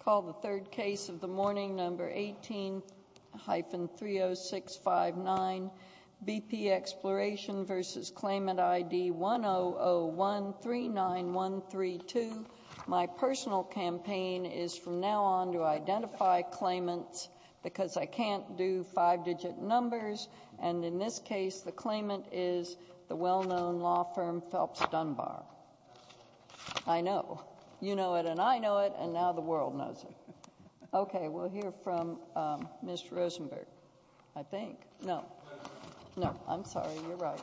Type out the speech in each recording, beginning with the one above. Call the third case of the morning, number 18-30659, BP Exploration v. Claimant ID 100139132. My personal campaign is from now on to identify claimants because I can't do five-digit numbers. And in this case, the claimant is the well-known law firm Phelps Dunbar. I know. You know it, and I know it, and now the world knows it. Okay, we'll hear from Ms. Rosenberg, I think. No. No, I'm sorry. You're right.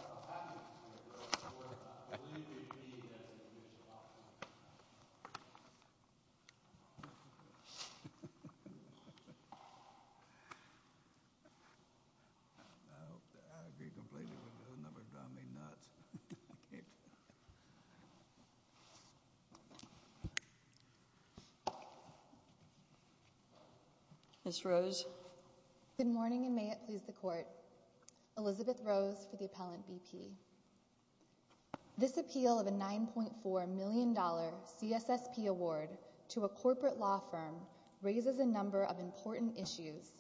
Ms. Rosenberg. Good morning and may it please the Court. Elizabeth Rose for the Appellant BP. This appeal of a $9.4 million CSSP award to a corporate law firm raises a number of important issues,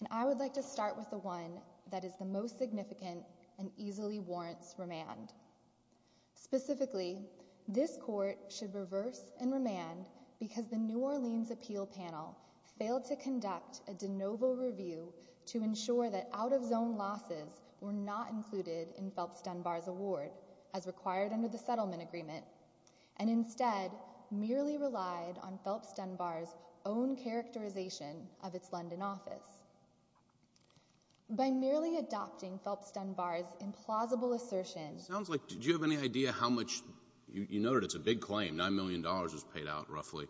and I would like to start with the one that is the most significant and easily warrants remand. Specifically, this Court should reverse and remand because the New Orleans Appeal Panel failed to conduct a de novo review to ensure that out-of-zone losses were not included in Phelps Dunbar's award as required under the settlement agreement and instead merely relied on Phelps Dunbar's own characterization of its London office. By merely adopting Phelps Dunbar's implausible assertion It sounds like, do you have any idea how much, you know it, it's a big claim, $9 million was paid out roughly.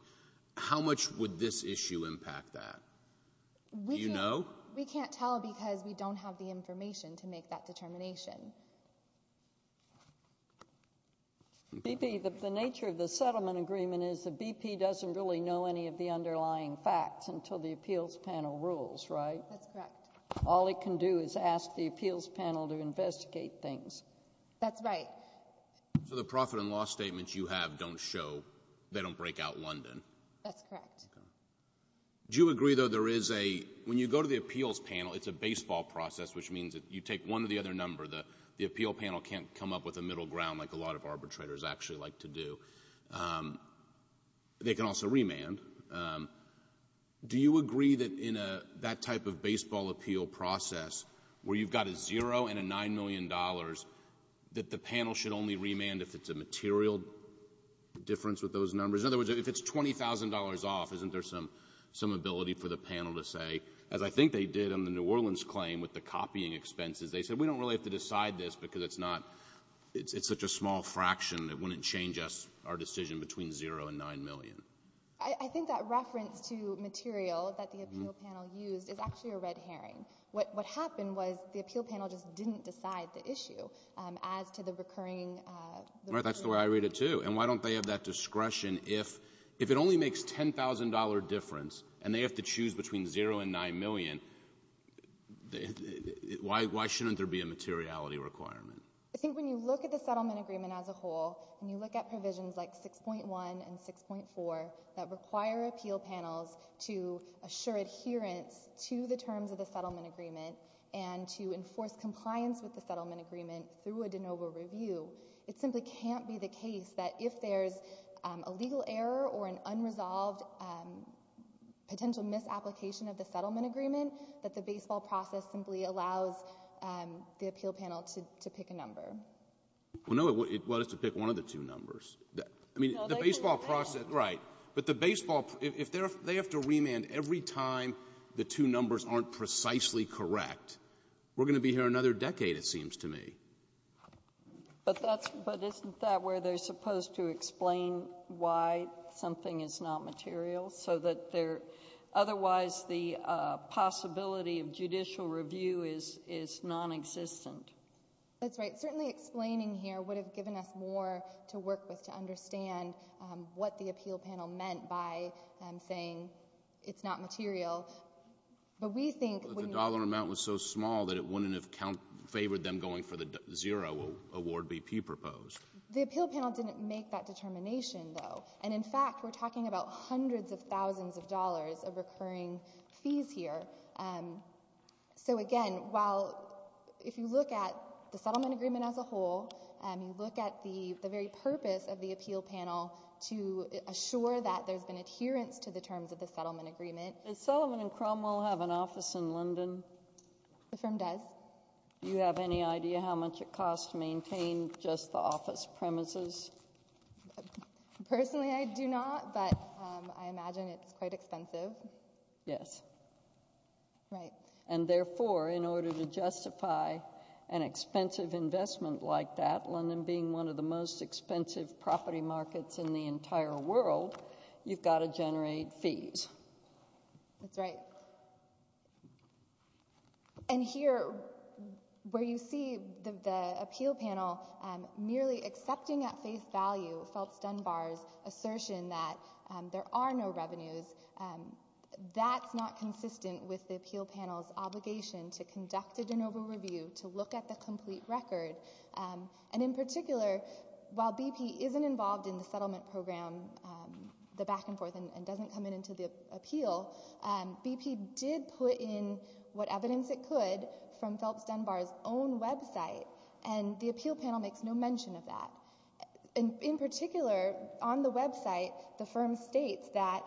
How much would this issue impact that? Do you know? We can't tell because we don't have the information to make that determination. BP, the nature of the settlement agreement is the BP doesn't really know any of the underlying facts until the appeals panel rules, right? That's correct. All it can do is ask the appeals panel to investigate things. That's right. So the profit and loss statements you have don't show, they don't break out London. That's correct. Do you agree, though, there is a, when you go to the appeals panel, it's a baseball process, which means that you take one or the other number. The appeal panel can't come up with a middle ground like a lot of arbitrators actually like to do. They can also remand. Do you agree that in that type of baseball appeal process, where you've got a zero and a $9 million, that the panel should only remand if it's a material difference with those numbers? In other words, if it's $20,000 off, isn't there some ability for the panel to say, as I think they did on the New Orleans claim with the copying expenses, they said, we don't really have to decide this because it's not, it's such a small fraction. It wouldn't change us, our decision between zero and $9 million. I think that reference to material that the appeal panel used is actually a red herring. What happened was the appeal panel just didn't decide the issue as to the recurring. That's the way I read it, too. And why don't they have that discretion if it only makes $10,000 difference and they have to choose between zero and $9 million, why shouldn't there be a materiality requirement? I think when you look at the settlement agreement as a whole, and you look at provisions like 6.1 and 6.4 that require appeal panels to assure adherence to the terms of the settlement agreement and to enforce compliance with the settlement agreement through a de novo review, it simply can't be the case that if there's a legal error or an unresolved potential misapplication of the settlement agreement, that the baseball process simply allows the appeal panel to pick a number. Well, no. It let us to pick one of the two numbers. I mean, the baseball process, right. But the baseball, if they have to remand every time the two numbers aren't precisely correct, we're going to be here another decade, it seems to me. But that's — but isn't that where they're supposed to explain why something is not material so that they're — otherwise the possibility of judicial review is nonexistent? That's right. Certainly explaining here would have given us more to work with to understand what the appeal panel meant by saying it's not material. But we think — But the dollar amount was so small that it wouldn't have favored them going for the zero award BP proposed. The appeal panel didn't make that determination, though. And, in fact, we're talking about hundreds of thousands of dollars of recurring fees here. So, again, while — if you look at the settlement agreement as a whole, you look at the very purpose of the appeal panel to assure that there's been adherence to the terms of the settlement agreement — Does Sullivan & Cromwell have an office in London? The firm does. Do you have any idea how much it costs to maintain just the office premises? Personally, I do not, but I imagine it's quite expensive. Yes. Right. And, therefore, in order to justify an expensive investment like that, London being one of the most expensive property markets in the entire world, you've got to generate fees. That's right. And here, where you see the appeal panel merely accepting at face value Felt's Dunbar's assertion that there are no revenues, that's not consistent with the appeal panel's obligation to conduct a de novo review to look at the complete record. And, in particular, while BP isn't involved in the settlement program, the back and forth, and doesn't come into the appeal, BP did put in what evidence it could from Felt's Dunbar's own website, and the appeal panel makes no mention of that. In particular, on the website, the firm states that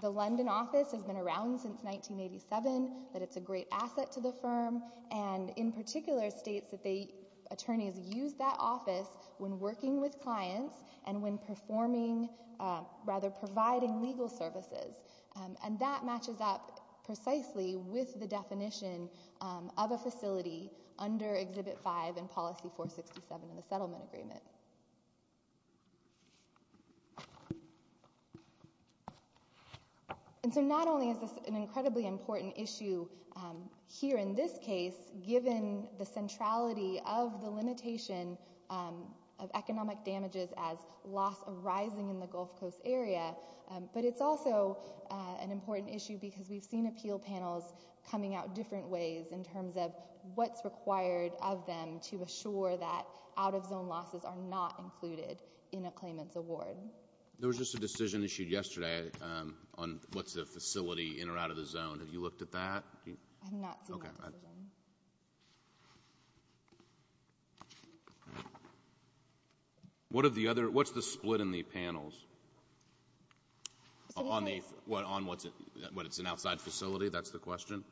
the London office has been around since 1987, that it's a great asset to the firm, and, in particular, states that attorneys use that office when working with clients, and when performing, rather, providing legal services. And that matches up precisely with the definition of a facility under Exhibit 5 and Policy 467 in the settlement agreement. And, so, not only is this an incredibly important issue here in this case, given the centrality of the limitation of economic damages as loss arising in the Gulf Coast area, but it's also an important issue because we've seen appeal panels coming out different ways in terms of what's required of them to assure that out-of-zone losses are not included in a claimant's award. There was just a decision issued yesterday on what's a facility in or out of the zone. I have not seen that decision. Okay. What's the split in the panels? On what's an outside facility? That's the question?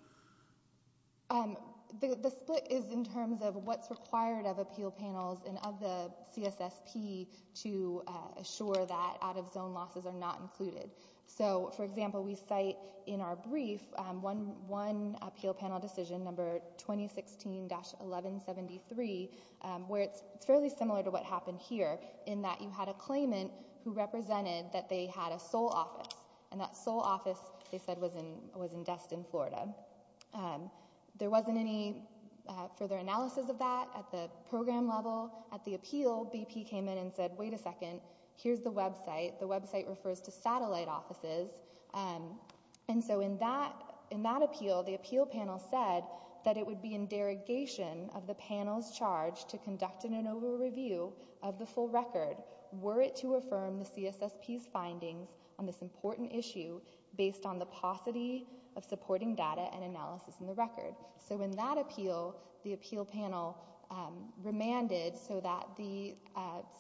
The split is in terms of what's required of appeal panels and of the CSSP to assure that out-of-zone losses are not included. So, for example, we cite in our brief one appeal panel decision, number 2016-1173, where it's fairly similar to what happened here in that you had a claimant who represented that they had a sole office, and that sole office, they said, was in Destin, Florida. There wasn't any further analysis of that at the program level. At the appeal, BP came in and said, wait a second, here's the website. The website refers to satellite offices. And so in that appeal, the appeal panel said that it would be in derogation of the panel's charge to conduct an over-review of the full record were it to affirm the CSSP's findings on this important issue based on the paucity of supporting data and analysis in the record. So in that appeal, the appeal panel remanded so that the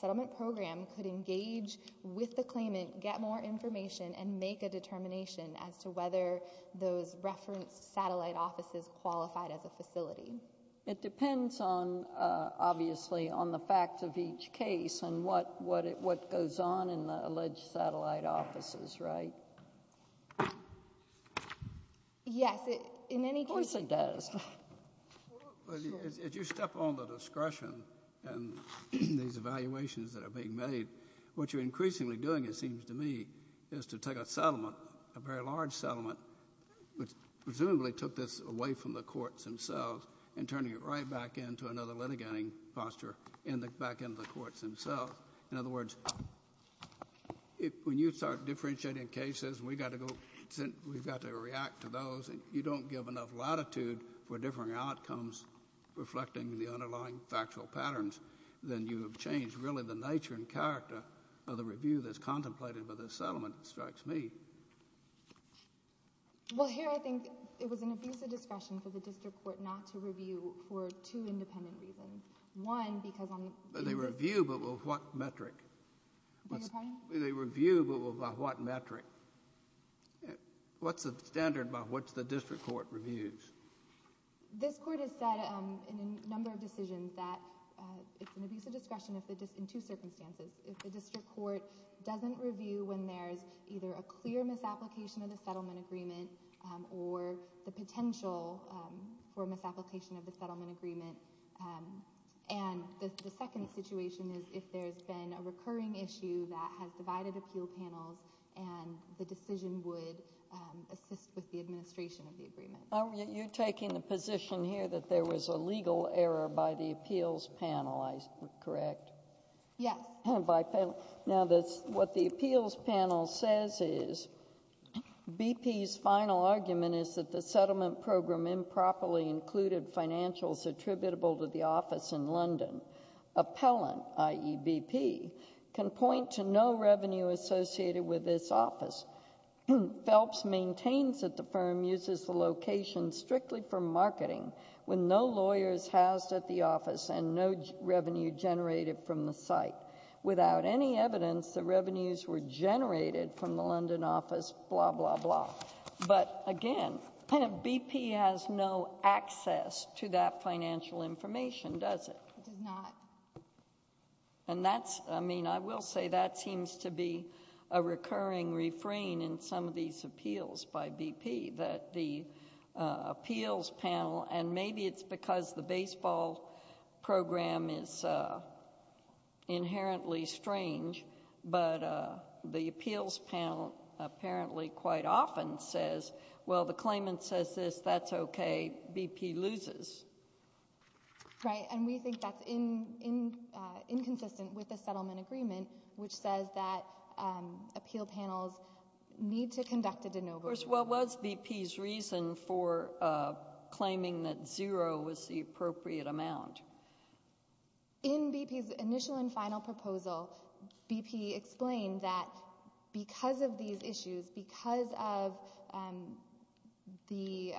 settlement program could engage with the claimant, get more information, and make a determination as to whether those referenced satellite offices qualified as a facility. It depends on, obviously, on the facts of each case and what goes on in the alleged satellite offices, right? Yes. Of course it does. Well, as you step on the discretion and these evaluations that are being made, what you're increasingly doing, it seems to me, is to take a settlement, a very large settlement, which presumably took this away from the courts themselves and turning it right back into another litigating posture back into the courts themselves. In other words, when you start differentiating cases, we've got to react to those. You don't give enough latitude for differing outcomes reflecting the underlying factual patterns. Then you have changed, really, the nature and character of the review that's contemplated by this settlement. It strikes me. Well, here I think it was an abusive discretion for the district court not to review for two independent reasons. One, because on the — They review, but by what metric? I beg your pardon? They review, but by what metric? What's the standard by which the district court reviews? This court has said in a number of decisions that it's an abusive discretion in two circumstances. If the district court doesn't review when there's either a clear misapplication of the settlement agreement or the potential for misapplication of the settlement agreement. And the second situation is if there's been a recurring issue that has divided appeal panels and the decision would assist with the administration of the agreement. You're taking the position here that there was a legal error by the appeals panel, correct? Yes. Now, what the appeals panel says is BP's final argument is that the settlement program improperly included financials attributable to the office in London. Appellant, i.e., BP, can point to no revenue associated with this office. Phelps maintains that the firm uses the location strictly for marketing when no lawyer is housed at the office and no revenue generated from the site. Without any evidence, the revenues were generated from the London office, blah, blah, blah. But again, BP has no access to that financial information, does it? It does not. And that's, I mean, I will say that seems to be a recurring refrain in some of these appeals by BP, that the appeals panel, and maybe it's because the baseball program is inherently strange, but the appeals panel apparently quite often says, well, the claimant says this, that's okay, BP loses. Right. And we think that's inconsistent with the settlement agreement, which says that appeal panels need to conduct a de novo. What was BP's reason for claiming that zero was the appropriate amount? In BP's initial and final proposal, BP explained that because of these issues, because of the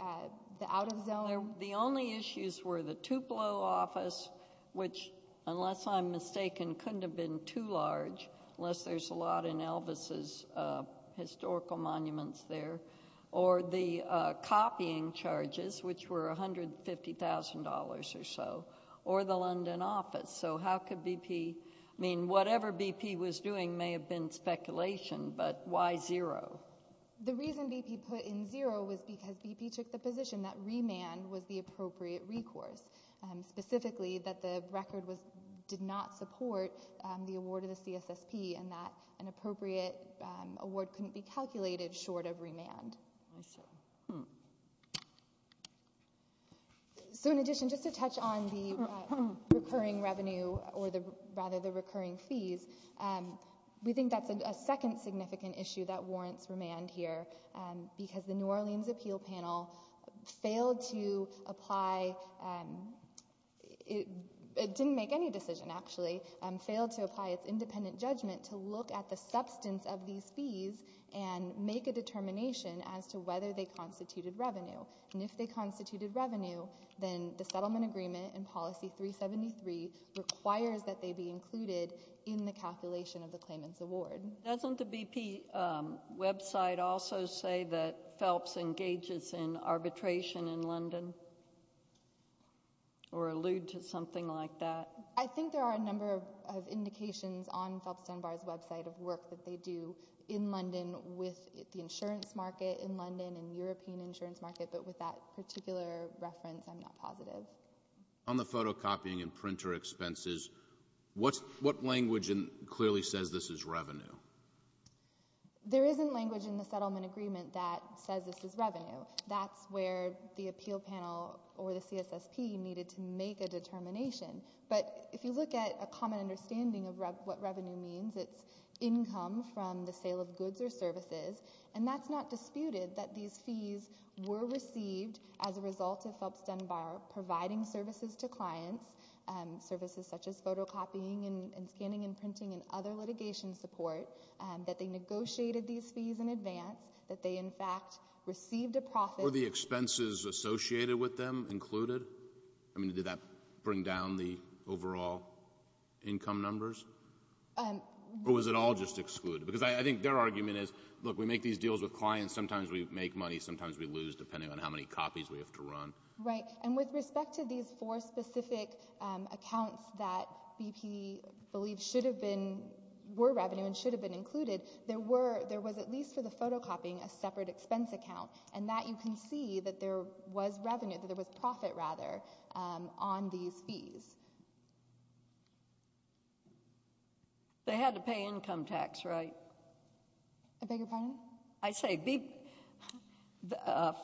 The only issues were the Tupelo office, which, unless I'm mistaken, couldn't have been too large, unless there's a lot in Elvis's historical monuments there, or the copying charges, which were $150,000 or so, or the London office. So how could BP, I mean, whatever BP was doing may have been speculation, but why zero? The reason BP put in zero was because BP took the position that remand was the appropriate recourse, specifically that the record did not support the award of the CSSP, and that an appropriate award couldn't be calculated short of remand. I see. So in addition, just to touch on the recurring revenue, or rather the recurring fees, we because the New Orleans appeal panel failed to apply, it didn't make any decision, actually, failed to apply its independent judgment to look at the substance of these fees and make a determination as to whether they constituted revenue. And if they constituted revenue, then the settlement agreement in policy 373 requires that they be included in the calculation of the claimant's award. Doesn't the BP website also say that Phelps engages in arbitration in London, or allude to something like that? I think there are a number of indications on Phelps Dunbar's website of work that they do in London with the insurance market in London and European insurance market, but with that particular reference, I'm not positive. On the photocopying and printer expenses, what language clearly says this is revenue? There isn't language in the settlement agreement that says this is revenue. That's where the appeal panel or the CSSP needed to make a determination. But if you look at a common understanding of what revenue means, it's income from the sale of goods or services, and that's not disputed, that these fees were received as a result of Phelps Dunbar providing services to clients, services such as photocopying and scanning and printing and other litigation support, that they negotiated these fees in advance, that they, in fact, received a profit. Were the expenses associated with them included? I mean, did that bring down the overall income numbers? Or was it all just excluded? Because I think their argument is, look, we make these deals with clients, sometimes we have to run. Right. And with respect to these four specific accounts that BP believes should have been, were revenue and should have been included, there was, at least for the photocopying, a separate expense account, and that you can see that there was revenue, that there was profit, rather, on these fees. They had to pay income tax, right? I beg your pardon? I say,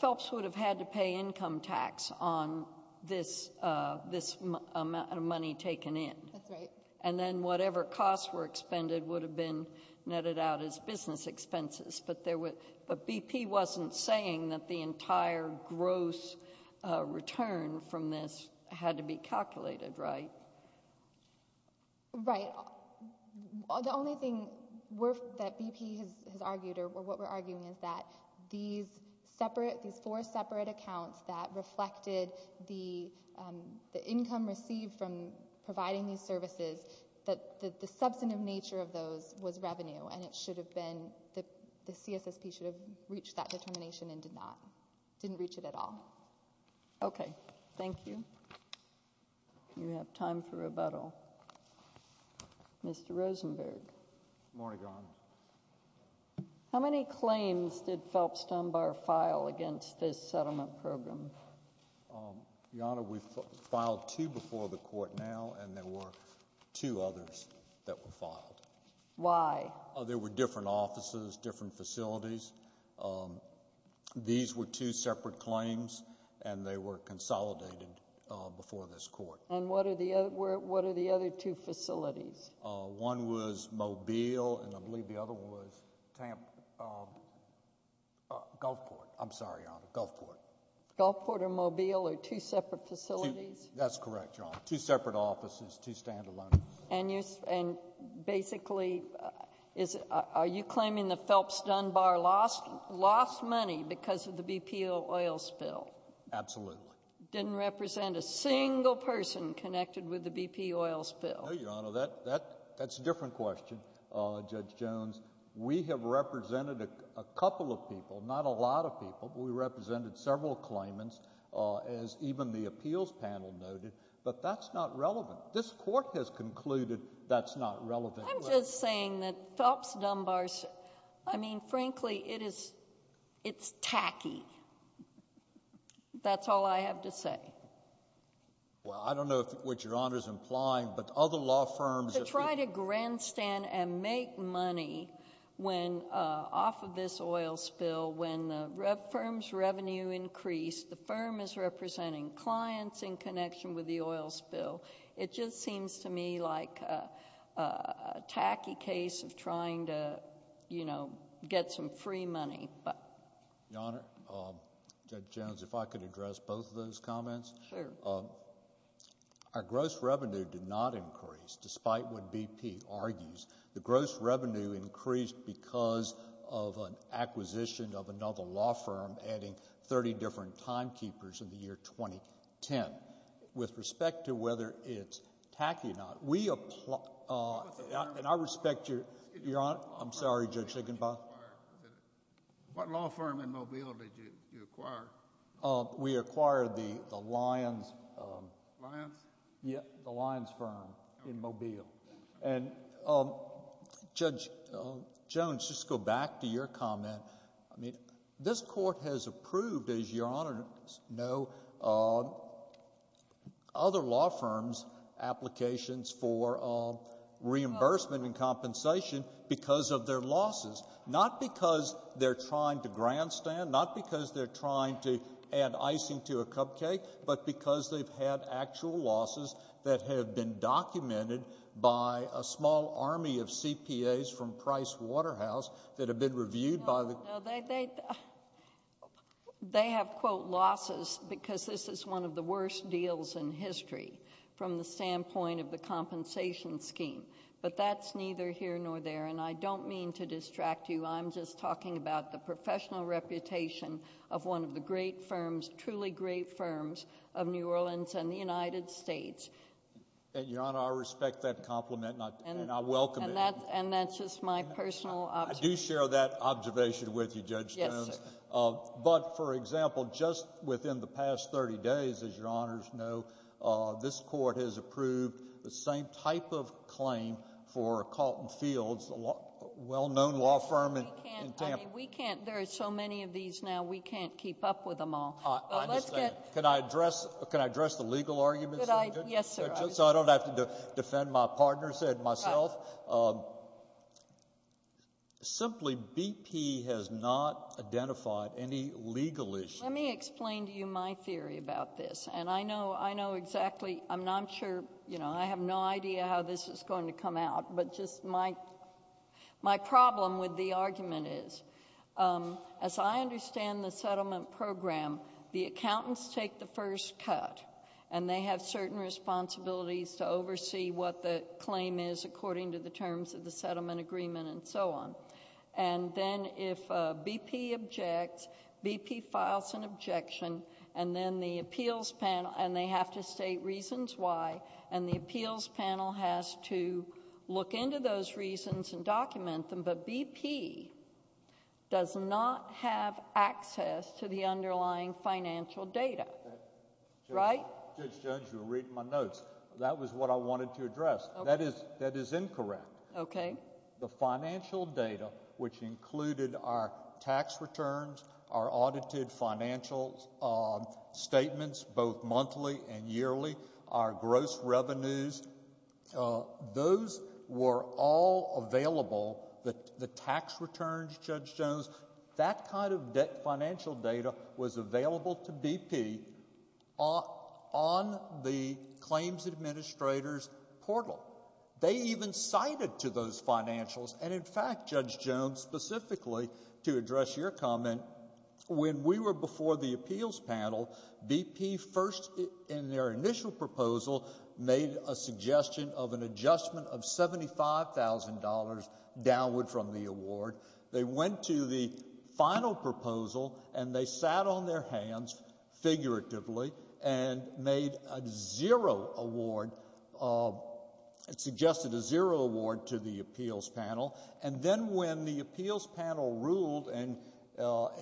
Phelps would have had to pay income tax on this amount of money taken in. That's right. And then whatever costs were expended would have been netted out as business expenses. But BP wasn't saying that the entire gross return from this had to be calculated, right? Right. The only thing that BP has argued, or what we're arguing, is that these separate, these four separate accounts that reflected the income received from providing these services, that the substantive nature of those was revenue, and it should have been, the CSSP should have reached that determination and did not, didn't reach it at all. Okay. Thank you. You have time for rebuttal. Mr. Rosenberg. Good morning, Your Honor. How many claims did Phelps Dunbar file against this settlement program? Your Honor, we filed two before the court now, and there were two others that were filed. Why? There were different offices, different facilities. These were two separate claims, and they were consolidated before this court. And what are the other two facilities? One was Mobile, and I believe the other one was Tampa, Gulfport. I'm sorry, Your Honor. Gulfport. Gulfport or Mobile are two separate facilities? That's correct, Your Honor. Two separate offices, two standalone. And basically, are you claiming that Phelps Dunbar lost money because of the BP oil spill? Absolutely. Didn't represent a single person connected with the BP oil spill? No, Your Honor. That's a different question, Judge Jones. We have represented a couple of people, not a lot of people. We represented several claimants, as even the appeals panel noted, but that's not relevant. This court has concluded that's not relevant. I'm just saying that Phelps Dunbar, I mean, frankly, it is, it's tacky. That's all I have to say. Well, I don't know what Your Honor is implying, but other law firms— To try to grandstand and make money off of this oil spill when the firm's revenue increased, the firm is representing clients in connection with the oil spill. It just seems to me like a tacky case of trying to, you know, get some free money. Your Honor, Judge Jones, if I could address both of those comments. Sure. Our gross revenue did not increase, despite what BP argues. The gross revenue increased because of an acquisition of another law firm adding 30 different timekeepers in the year 2010. With respect to whether it's tacky or not, we— And I respect your—I'm sorry, Judge Higginbotham. What law firm in Mobile did you acquire? We acquired the Lyons— Lyons? Yeah, the Lyons firm in Mobile. And, Judge Jones, just to go back to your comment, I mean, this Court has approved, as Your Honor knows, other law firms' applications for reimbursement and compensation because of their losses, not because they're trying to grandstand, not because they're trying to add icing to a cupcake, but because they've had actual losses that have been documented by a small army of CPAs from Price Waterhouse that have been reviewed by the— No, no, they have, quote, losses because this is one of the worst deals in history from the standpoint of the compensation scheme. But that's neither here nor there, and I don't mean to distract you. I'm just talking about the professional reputation of one of the great firms, truly great firms, of New Orleans and the United States. And, Your Honor, I respect that compliment, and I welcome it. And that's just my personal— I do share that observation with you, Judge Jones. Yes, sir. But, for example, just within the past 30 days, as Your Honors know, this court has approved the same type of claim for Colton Fields, a well-known law firm in Tampa. We can't—I mean, we can't—there are so many of these now, we can't keep up with them all. I understand. But let's get— Can I address the legal arguments, Judge Jones? Yes, sir. So I don't have to defend my partner and myself? Right. Simply, BP has not identified any legal issues. Let me explain to you my theory about this. And I know exactly—I'm not sure—you know, I have no idea how this is going to come out, but just my problem with the argument is, as I understand the settlement program, the accountants take the first cut, and they have certain responsibilities to oversee what the claim is according to the terms of the settlement agreement and so on. And then if BP objects, BP files an objection, and then the appeals panel—and they have to state reasons why, and the appeals panel has to look into those reasons and document them. But BP does not have access to the underlying financial data. Right? Judge Jones, you were reading my notes. That was what I wanted to address. That is incorrect. Okay. The financial data, which included our tax returns, our audited financial statements, both monthly and yearly, our gross revenues, those were all available, the tax returns, Judge Jones. That kind of debt financial data was available to BP on the claims administrator's portal. They even cited to those financials, and in fact, Judge Jones, specifically, to address your comment, when we were before the appeals panel, BP first in their initial proposal made a suggestion of an adjustment of $75,000 downward from the award. They went to the final proposal, and they sat on their hands figuratively and made a zero award, suggested a zero award to the appeals panel. And then when the appeals panel ruled, and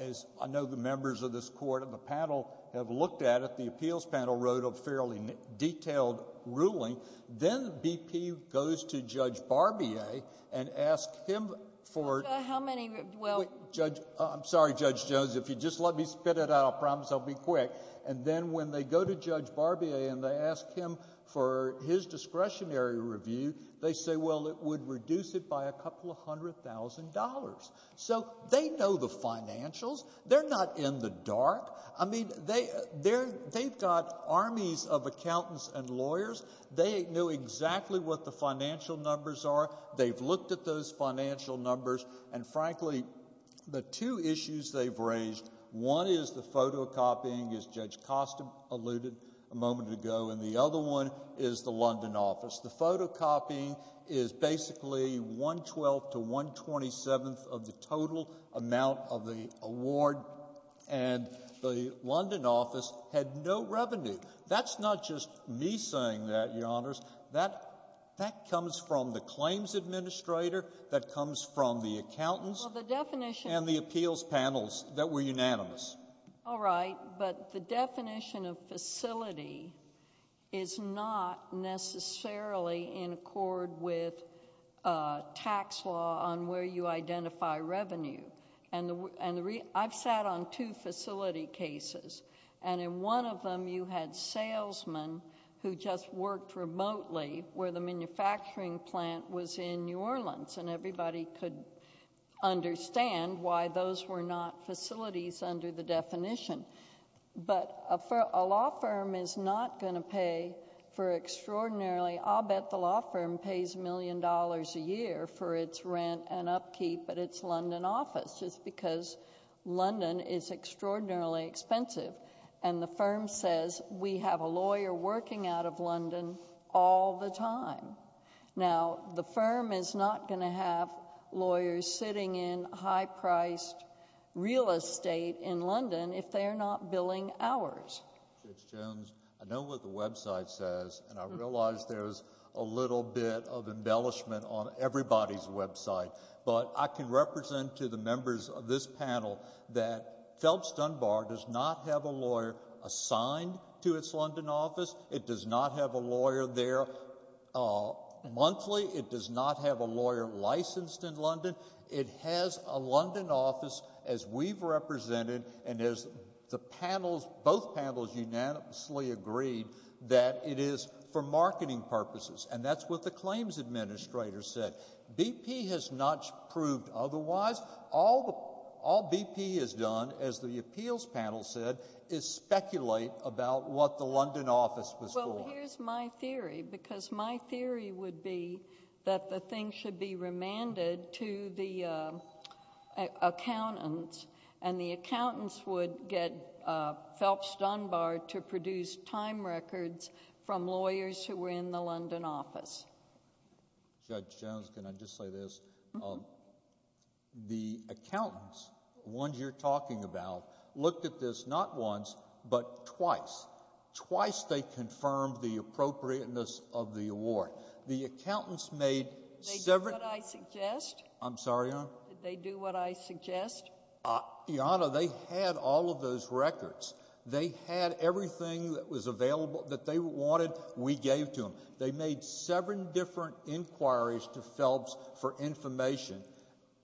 as I know the members of this Court and the panel have looked at it, the appeals panel wrote a fairly detailed ruling. Then BP goes to Judge Barbier and asks him for – How many – well – Judge – I'm sorry, Judge Jones. If you just let me spit it out, I promise I'll be quick. And then when they go to Judge Barbier and they ask him for his discretionary review, they say, well, it would reduce it by a couple of hundred thousand dollars. So they know the financials. They're not in the dark. I mean, they've got armies of accountants and lawyers. They know exactly what the financial numbers are. They've looked at those financial numbers. And, frankly, the two issues they've raised, one is the photocopying, as Judge Costom alluded a moment ago, and the other one is the London office. The photocopying is basically one-twelfth to one-twenty-seventh of the total amount of the award, and the London office had no revenue. That's not just me saying that, Your Honors. That comes from the claims administrator. That comes from the accountants. Well, the definition – And the appeals panels that were unanimous. All right, but the definition of facility is not necessarily in accord with tax law on where you identify revenue. I've sat on two facility cases, and in one of them you had salesmen who just worked remotely where the manufacturing plant was in New Orleans, and everybody could understand why those were not facilities under the definition. But a law firm is not going to pay for extraordinarily – I'll bet the law firm pays a million dollars a year for its rent and upkeep at its London office, just because London is extraordinarily expensive. And the firm says, we have a lawyer working out of London all the time. Now, the firm is not going to have lawyers sitting in high-priced real estate in London if they are not billing hours. Judge Jones, I know what the website says, and I realize there's a little bit of embellishment on everybody's website, but I can represent to the members of this panel that Phelps Dunbar does not have a lawyer assigned to its London office. It does not have a lawyer there monthly. It does not have a lawyer licensed in London. It has a London office, as we've represented and as the panels, both panels unanimously agreed, that it is for marketing purposes. And that's what the claims administrator said. BP has not proved otherwise. All BP has done, as the appeals panel said, is speculate about what the London office was for. Well, here's my theory, because my theory would be that the thing should be remanded to the accountants, and the accountants would get Phelps Dunbar to produce time records from lawyers who were in the London office. Judge Jones, can I just say this? Mm-hmm. The accountants, the ones you're talking about, looked at this not once, but twice. Twice they confirmed the appropriateness of the award. The accountants made several— Did they do what I suggest? I'm sorry, Your Honor? Did they do what I suggest? Your Honor, they had all of those records. They had everything that was available, that they wanted, we gave to them. They made seven different inquiries to Phelps for information.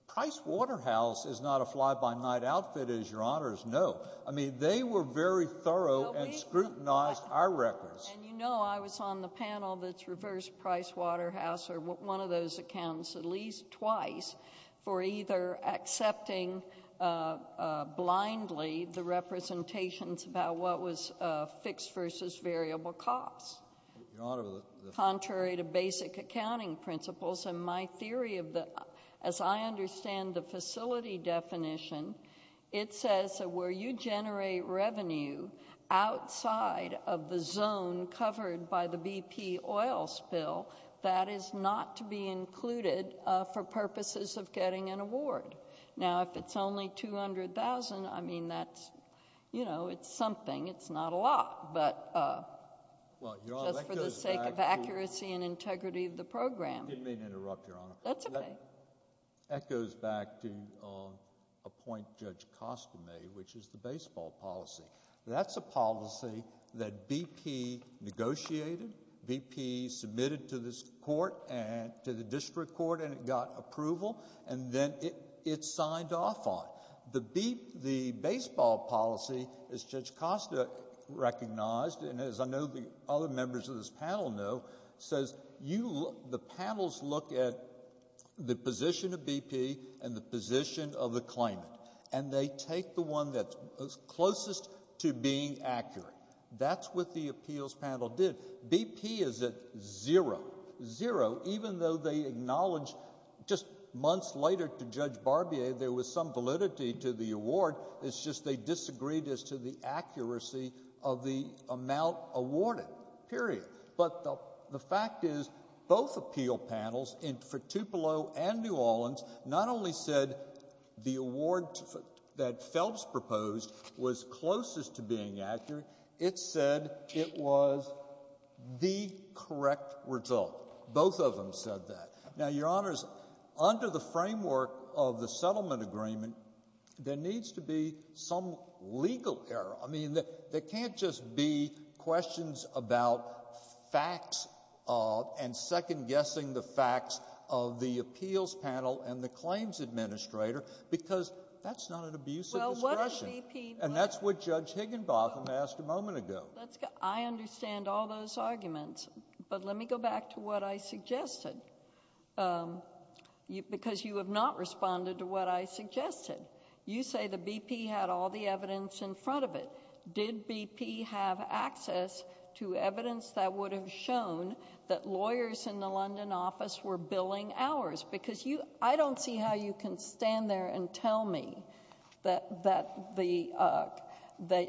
Price Waterhouse is not a fly-by-night outfit, as Your Honors know. I mean, they were very thorough and scrutinized our records. And you know I was on the panel that's reversed Price Waterhouse or one of those accountants at least twice for either accepting blindly the representations about what was fixed versus variable costs. Your Honor, the— Contrary to basic accounting principles, in my theory of the—as I understand the facility definition, it says that where you generate revenue outside of the zone covered by the BP oil spill, that is not to be included for purposes of getting an award. Now, if it's only $200,000, I mean, that's, you know, it's something. It's not a lot, but— Well, Your Honor, that goes back to— Just for the sake of accuracy and integrity of the program. Didn't mean to interrupt, Your Honor. That's okay. That goes back to a point Judge Costa made, which is the baseball policy. That's a policy that BP negotiated, BP submitted to this court and to the district court and it got approval and then it signed off on. The baseball policy, as Judge Costa recognized and as I know the other members of this panel know, says you—the panels look at the position of BP and the position of the claimant and they take the one that's closest to being accurate. That's what the appeals panel did. BP is at zero, zero, even though they acknowledged just months later to Judge Barbier there was some validity to the award. It's just they disagreed as to the accuracy of the amount awarded, period. But the fact is, both appeal panels, for Tupelo and New Orleans, not only said the award that Phelps proposed was closest to being accurate, it said it was the correct result. Both of them said that. Now, Your Honors, under the framework of the settlement agreement, there needs to be some legal error. I mean, there can't just be questions about facts and second-guessing the facts of the appeals panel and the claims administrator because that's not an abuse of discretion. And that's what Judge Higginbotham asked a moment ago. I understand all those arguments, but let me go back to what I suggested because you have not responded to what I suggested. You say the BP had all the evidence in front of it. Did BP have access to evidence that would have shown that lawyers in the London office were billing hours because I don't see how you can stand there and tell me that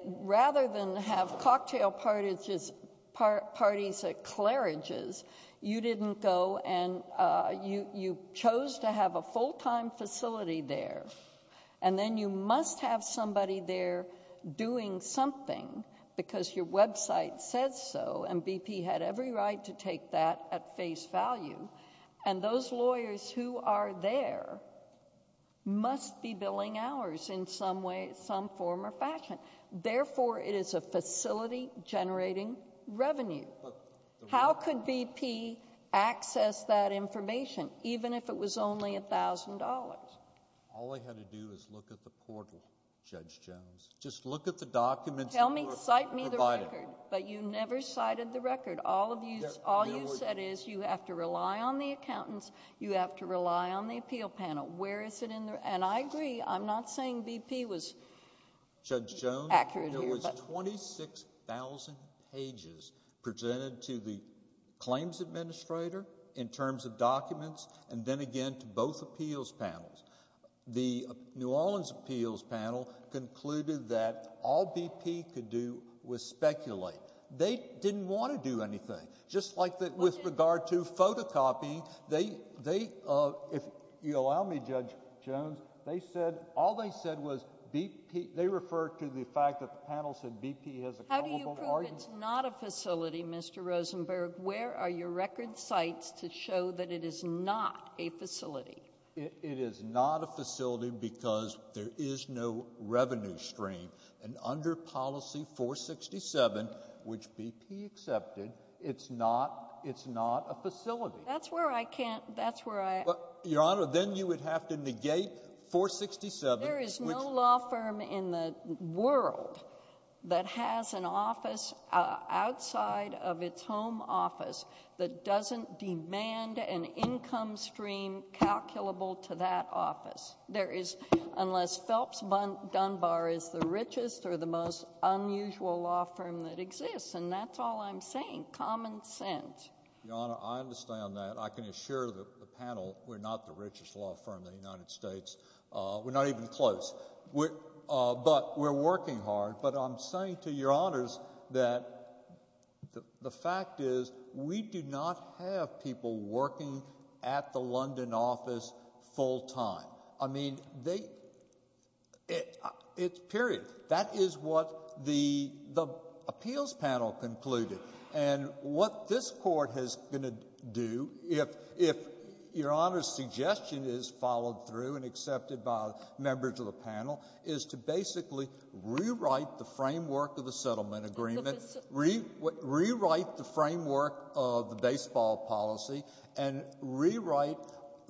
rather than have cocktail parties at clearages, you didn't go and you chose to have a full-time facility there. And then you must have somebody there doing something because your website says so, and BP had every right to take that at face value. And those lawyers who are there must be billing hours in some way, some form or fashion. Therefore, it is a facility generating revenue. How could BP access that information even if it was only $1,000? All I had to do was look at the portal, Judge Jones. Just look at the documents. Cite me the record, but you never cited the record. All you said is you have to rely on the accountants. You have to rely on the appeal panel. Where is it in there? And I agree. I'm not saying BP was accurate here. Judge Jones, there was 26,000 pages presented to the claims administrator in terms of documents and then again to both appeals panels. The New Orleans appeals panel concluded that all BP could do was speculate. They didn't want to do anything. Just like with regard to photocopying, they, if you allow me, Judge Jones, they said all they said was BP, they referred to the fact that the panel said BP has a culpable argument. How do you prove it's not a facility, Mr. Rosenberg? Where are your record cites to show that it is not a facility? It is not a facility because there is no revenue stream. And under Policy 467, which BP accepted, it's not a facility. That's where I can't — that's where I — Your Honor, then you would have to negate 467, which — There is no law firm in the world that has an office outside of its home office that doesn't demand an income stream calculable to that office. There is, unless Phelps Dunbar is the richest or the most unusual law firm that exists, and that's all I'm saying, common sense. Your Honor, I understand that. I can assure the panel we're not the richest law firm in the United States. We're not even close. But we're working hard. But I'm saying to Your Honors that the fact is we do not have people working at the London office full time. I mean, they — it's period. That is what the appeals panel concluded. And what this Court is going to do, if Your Honor's suggestion is followed through and accepted by members of the panel, is to basically rewrite the framework of the settlement agreement, rewrite the framework of the baseball policy, and rewrite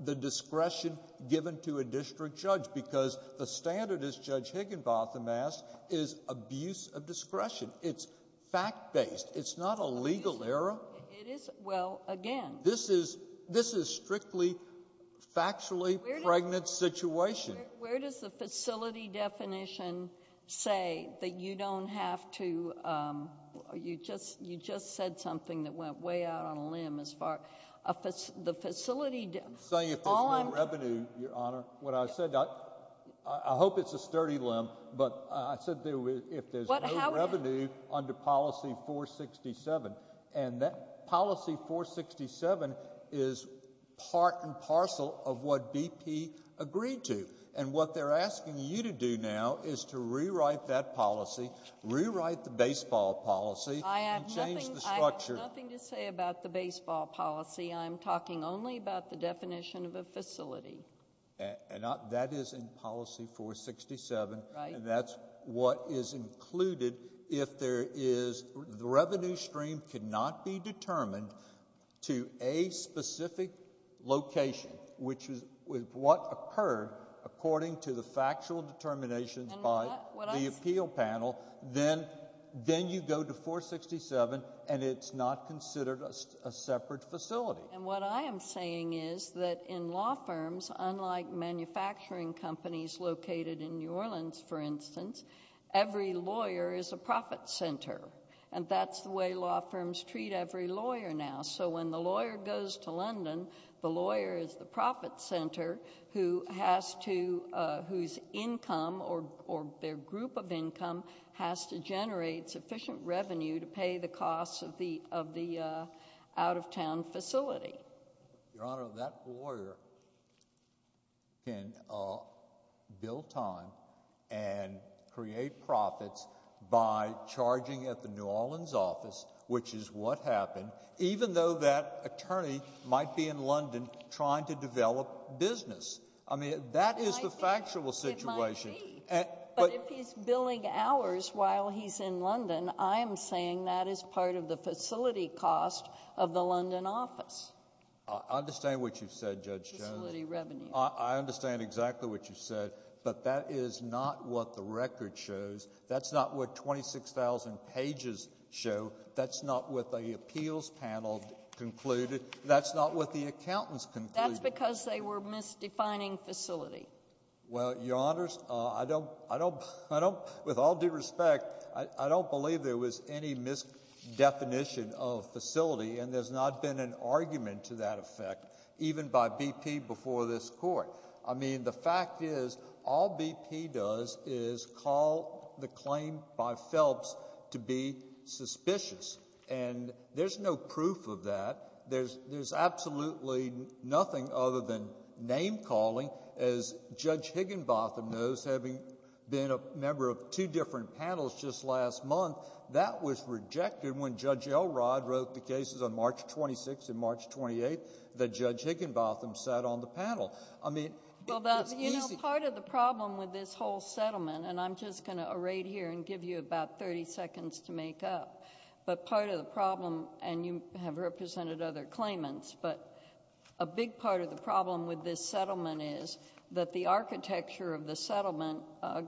the discretion given to a district judge, because the standard, as Judge Higginbotham asked, is abuse of discretion. It's fact-based. It's not a legal error. Well, again — This is — this is strictly factually pregnant situation. Where does the facility definition say that you don't have to — you just said something that went way out on a limb as far — the facility — I'm saying if there's no revenue, Your Honor. What I said — I hope it's a sturdy limb, but I said if there's no revenue under policy 467. And that policy 467 is part and parcel of what BP agreed to. And what they're asking you to do now is to rewrite that policy, rewrite the baseball policy — I have nothing —— and change the structure. I have nothing to say about the baseball policy. I'm talking only about the definition of a facility. And that is in policy 467. Right. And that's what is included if there is — the revenue stream cannot be determined to a specific location, which is what occurred according to the factual determinations by the appeal panel. Then you go to 467, and it's not considered a separate facility. And what I am saying is that in law firms, unlike manufacturing companies located in New Orleans, for instance, every lawyer is a profit center. And that's the way law firms treat every lawyer now. So when the lawyer goes to London, the lawyer is the profit center who has to — Your Honor, that lawyer can bill time and create profits by charging at the New Orleans office, which is what happened, even though that attorney might be in London trying to develop business. I mean, that is the factual situation. It might be. while he's in London, I am saying that is part of the facility cost of the London office. I understand what you've said, Judge Jones. Facility revenue. I understand exactly what you've said, but that is not what the record shows. That's not what 26,000 pages show. That's not what the appeals panel concluded. That's not what the accountants concluded. That's because they were misdefining facility. Well, Your Honors, I don't — with all due respect, I don't believe there was any misdefinition of facility, and there's not been an argument to that effect, even by BP before this Court. I mean, the fact is, all BP does is call the claim by Phelps to be suspicious. And there's no proof of that. There's absolutely nothing other than name-calling. As Judge Higginbotham knows, having been a member of two different panels just last month, that was rejected when Judge Elrod wrote the cases on March 26th and March 28th that Judge Higginbotham sat on the panel. I mean, it was easy — Well, you know, part of the problem with this whole settlement, and I'm just going to array it here and give you about 30 seconds to make up, but part of the problem — and you have represented other claimants, but a big part of the problem with this settlement is that the architecture of the settlement,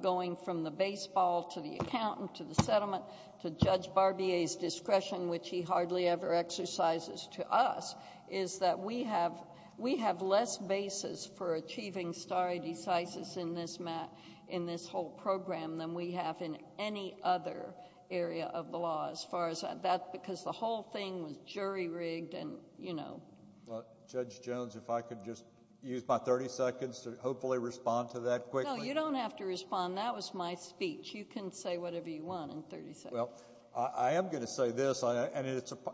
going from the baseball to the accountant to the settlement to Judge Barbier's discretion, which he hardly ever exercises to us, is that we have less basis for achieving stare decisis in this whole program than we have in any other area of the law as far as that — because the whole thing was jury-rigged and, you know. Well, Judge Jones, if I could just use my 30 seconds to hopefully respond to that quickly. No, you don't have to respond. That was my speech. You can say whatever you want in 30 seconds. Well, I am going to say this, and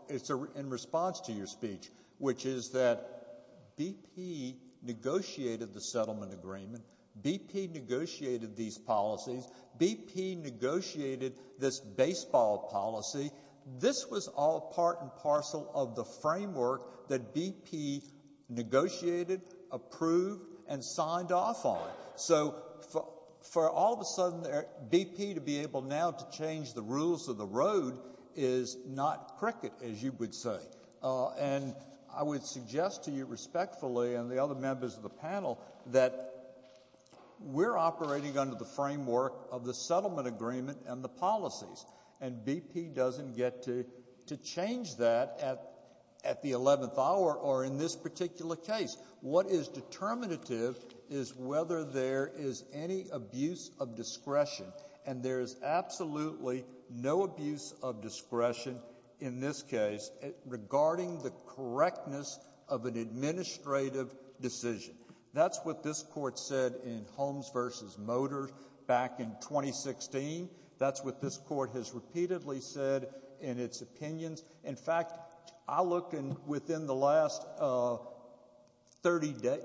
it's in response to your speech, which is that BP negotiated the settlement agreement. BP negotiated these policies. BP negotiated this baseball policy. This was all part and parcel of the framework that BP negotiated, approved, and signed off on. So for all of a sudden BP to be able now to change the rules of the road is not cricket, as you would say. And I would suggest to you respectfully and the other members of the panel that we're operating under the framework of the settlement agreement and the policies, and BP doesn't get to change that at the 11th hour or in this particular case. What is determinative is whether there is any abuse of discretion, and there is absolutely no abuse of discretion in this case regarding the correctness of an administrative decision. That's what this Court said in Holmes v. Motors back in 2016. That's what this Court has repeatedly said in its opinions. In fact, I look within the last 30 days.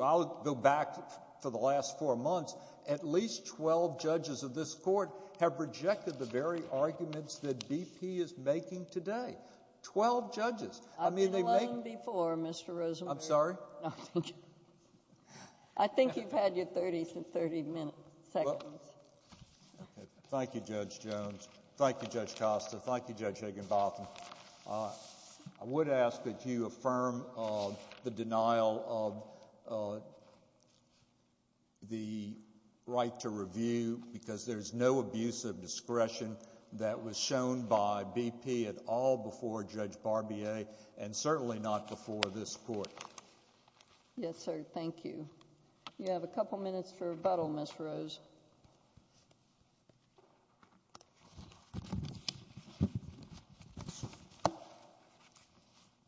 I'll go back for the last four months. At least 12 judges of this Court have rejected the very arguments that BP is making today. Twelve judges. I mean, they've made— I've been 11 before, Mr. Rosenberg. I'm sorry? No, thank you. I think you've had your 30 seconds. Thank you, Judge Jones. Thank you, Judge Costa. Thank you, Judge Higginbotham. I would ask that you affirm the denial of the right to review because there's no abuse of discretion that was shown by BP at all before Judge Barbier and certainly not before this Court. Yes, sir. Thank you. You have a couple minutes for rebuttal, Ms. Rose.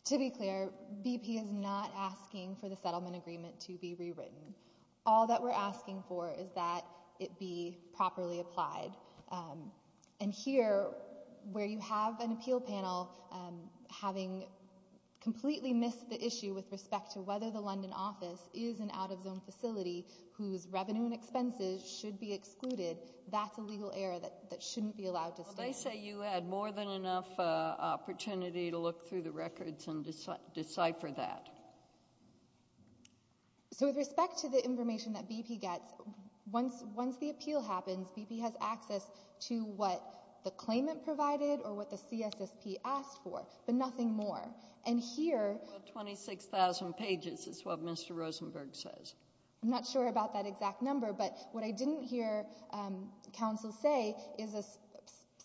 To be clear, BP is not asking for the settlement agreement to be rewritten. All that we're asking for is that it be properly applied. And here, where you have an appeal panel having completely missed the issue with respect to whether the London office is an out-of-zone facility whose revenue and expenses should be excluded, that's a legal error that shouldn't be allowed to stay. Well, they say you had more than enough opportunity to look through the records and decipher that. So with respect to the information that BP gets, once the appeal happens, BP has access to what the claimant provided or what the CSSP asked for, but nothing more. And here 26,000 pages is what Mr. Rosenberg says. I'm not sure about that exact number, but what I didn't hear counsel say is a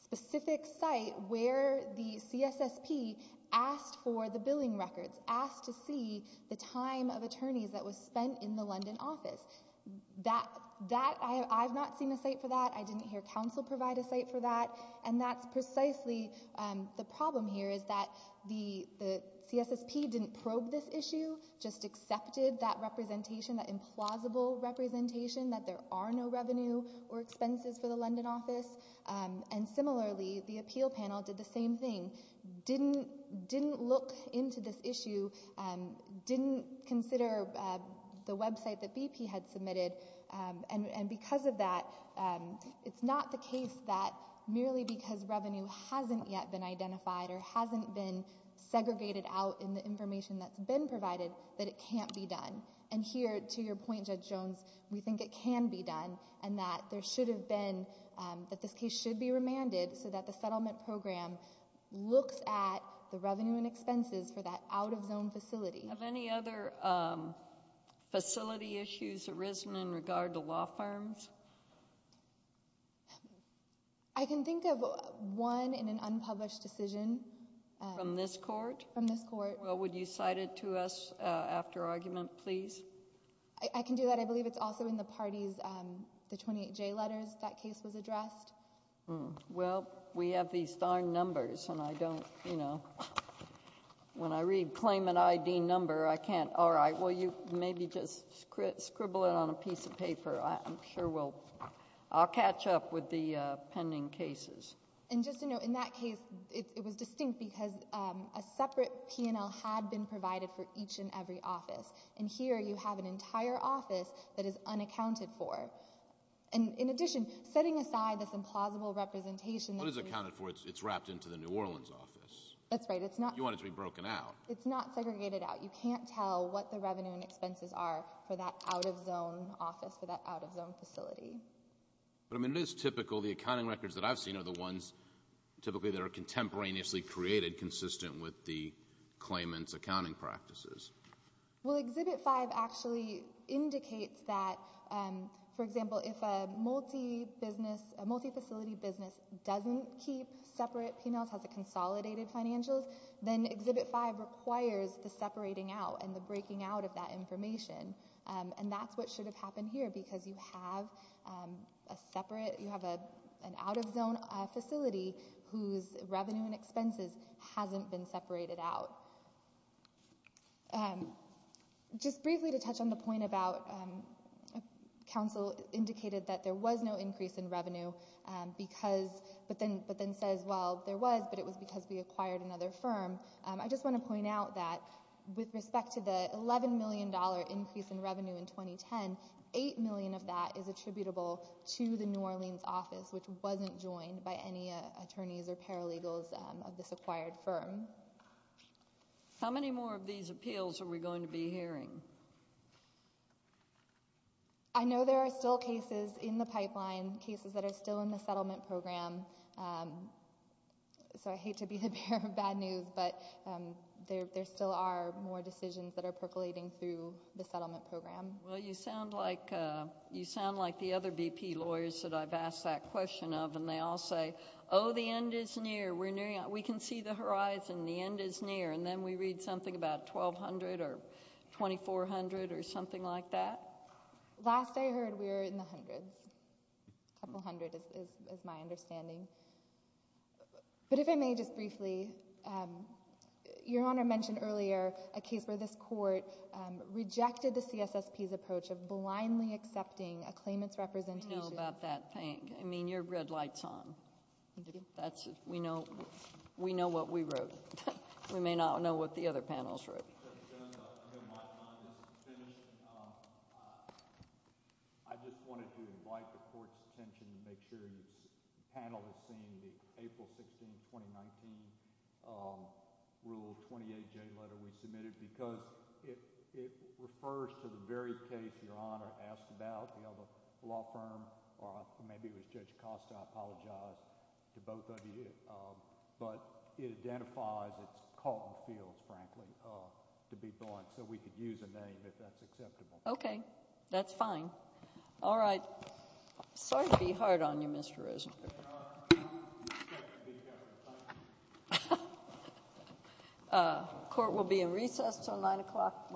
specific site where the CSSP asked for the billing records, asked to see the time of attorneys that was spent in the London office. I have not seen a site for that. I didn't hear counsel provide a site for that. And that's precisely the problem here is that the CSSP didn't probe this issue, just accepted that representation, that implausible representation that there are no revenue or expenses for the London office. And similarly, the appeal panel did the same thing, didn't look into this issue, didn't consider the website that BP had submitted. And because of that, it's not the case that merely because revenue hasn't yet been identified or hasn't been segregated out in the information that's been provided that it can't be done. And here, to your point, Judge Jones, we think it can be done and that there should have been, that this case should be remanded so that the settlement program looks at the revenue and expenses for that out-of-zone facility. Have any other facility issues arisen in regard to law firms? I can think of one in an unpublished decision. From this court? From this court. Well, would you cite it to us after argument, please? I can do that. I believe it's also in the parties, the 28J letters that case was addressed. Well, we have these darn numbers and I don't, you know, when I read claimant ID number, I can't, all right, well, you maybe just scribble it on a piece of paper. I'm sure we'll, I'll catch up with the pending cases. And just to note, in that case, it was distinct because a separate P&L had been provided for each and every office. And here you have an entire office that is unaccounted for. And in addition, setting aside this implausible representation. What is accounted for? It's wrapped into the New Orleans office. That's right. You want it to be broken out. It's not segregated out. You can't tell what the revenue and expenses are for that out-of-zone office, for that out-of-zone facility. But, I mean, it is typical. The accounting records that I've seen are the ones typically that are contemporaneously created, consistent with the claimant's accounting practices. Well, Exhibit 5 actually indicates that, for example, if a multifacility business doesn't keep separate P&Ls, has a consolidated financials, then Exhibit 5 requires the separating out and the breaking out of that information. And that's what should have happened here because you have a separate, you have an out-of-zone facility whose revenue and expenses hasn't been separated out. Just briefly to touch on the point about council indicated that there was no increase in revenue, but then says, well, there was, but it was because we acquired another firm. I just want to point out that with respect to the $11 million increase in revenue in 2010, $8 million of that is attributable to the New Orleans office, which wasn't joined by any attorneys or paralegals of this acquired firm. How many more of these appeals are we going to be hearing? I know there are still cases in the pipeline, cases that are still in the settlement program. So I hate to be the bearer of bad news, but there still are more decisions that are percolating through the settlement program. Well, you sound like the other VP lawyers that I've asked that question of, and they all say, oh, the end is near. We can see the horizon. The end is near. And then we read something about 1,200 or 2,400 or something like that. Last I heard, we were in the hundreds. A couple hundred is my understanding. But if I may just briefly, Your Honor mentioned earlier a case where this court rejected the CSSP's approach of blindly accepting a claimant's representation. We know about that thing. I mean, your red light's on. We know what we wrote. We may not know what the other panels wrote. Thank you, Judge Jones. I know my time is finished. I just wanted to invite the court's attention to make sure the panel has seen the April 16, 2019, Rule 28J letter we submitted because it refers to the very case your Honor asked about. We have a law firm, or maybe it was Judge Costa. I apologize to both of you. But it identifies its caught in the field, frankly, to be blind. So we could use a name if that's acceptable. Okay. That's fine. All right. Sorry to be hard on you, Mr. Rosenberg. Court will be in recess until 9 o'clock tomorrow morning.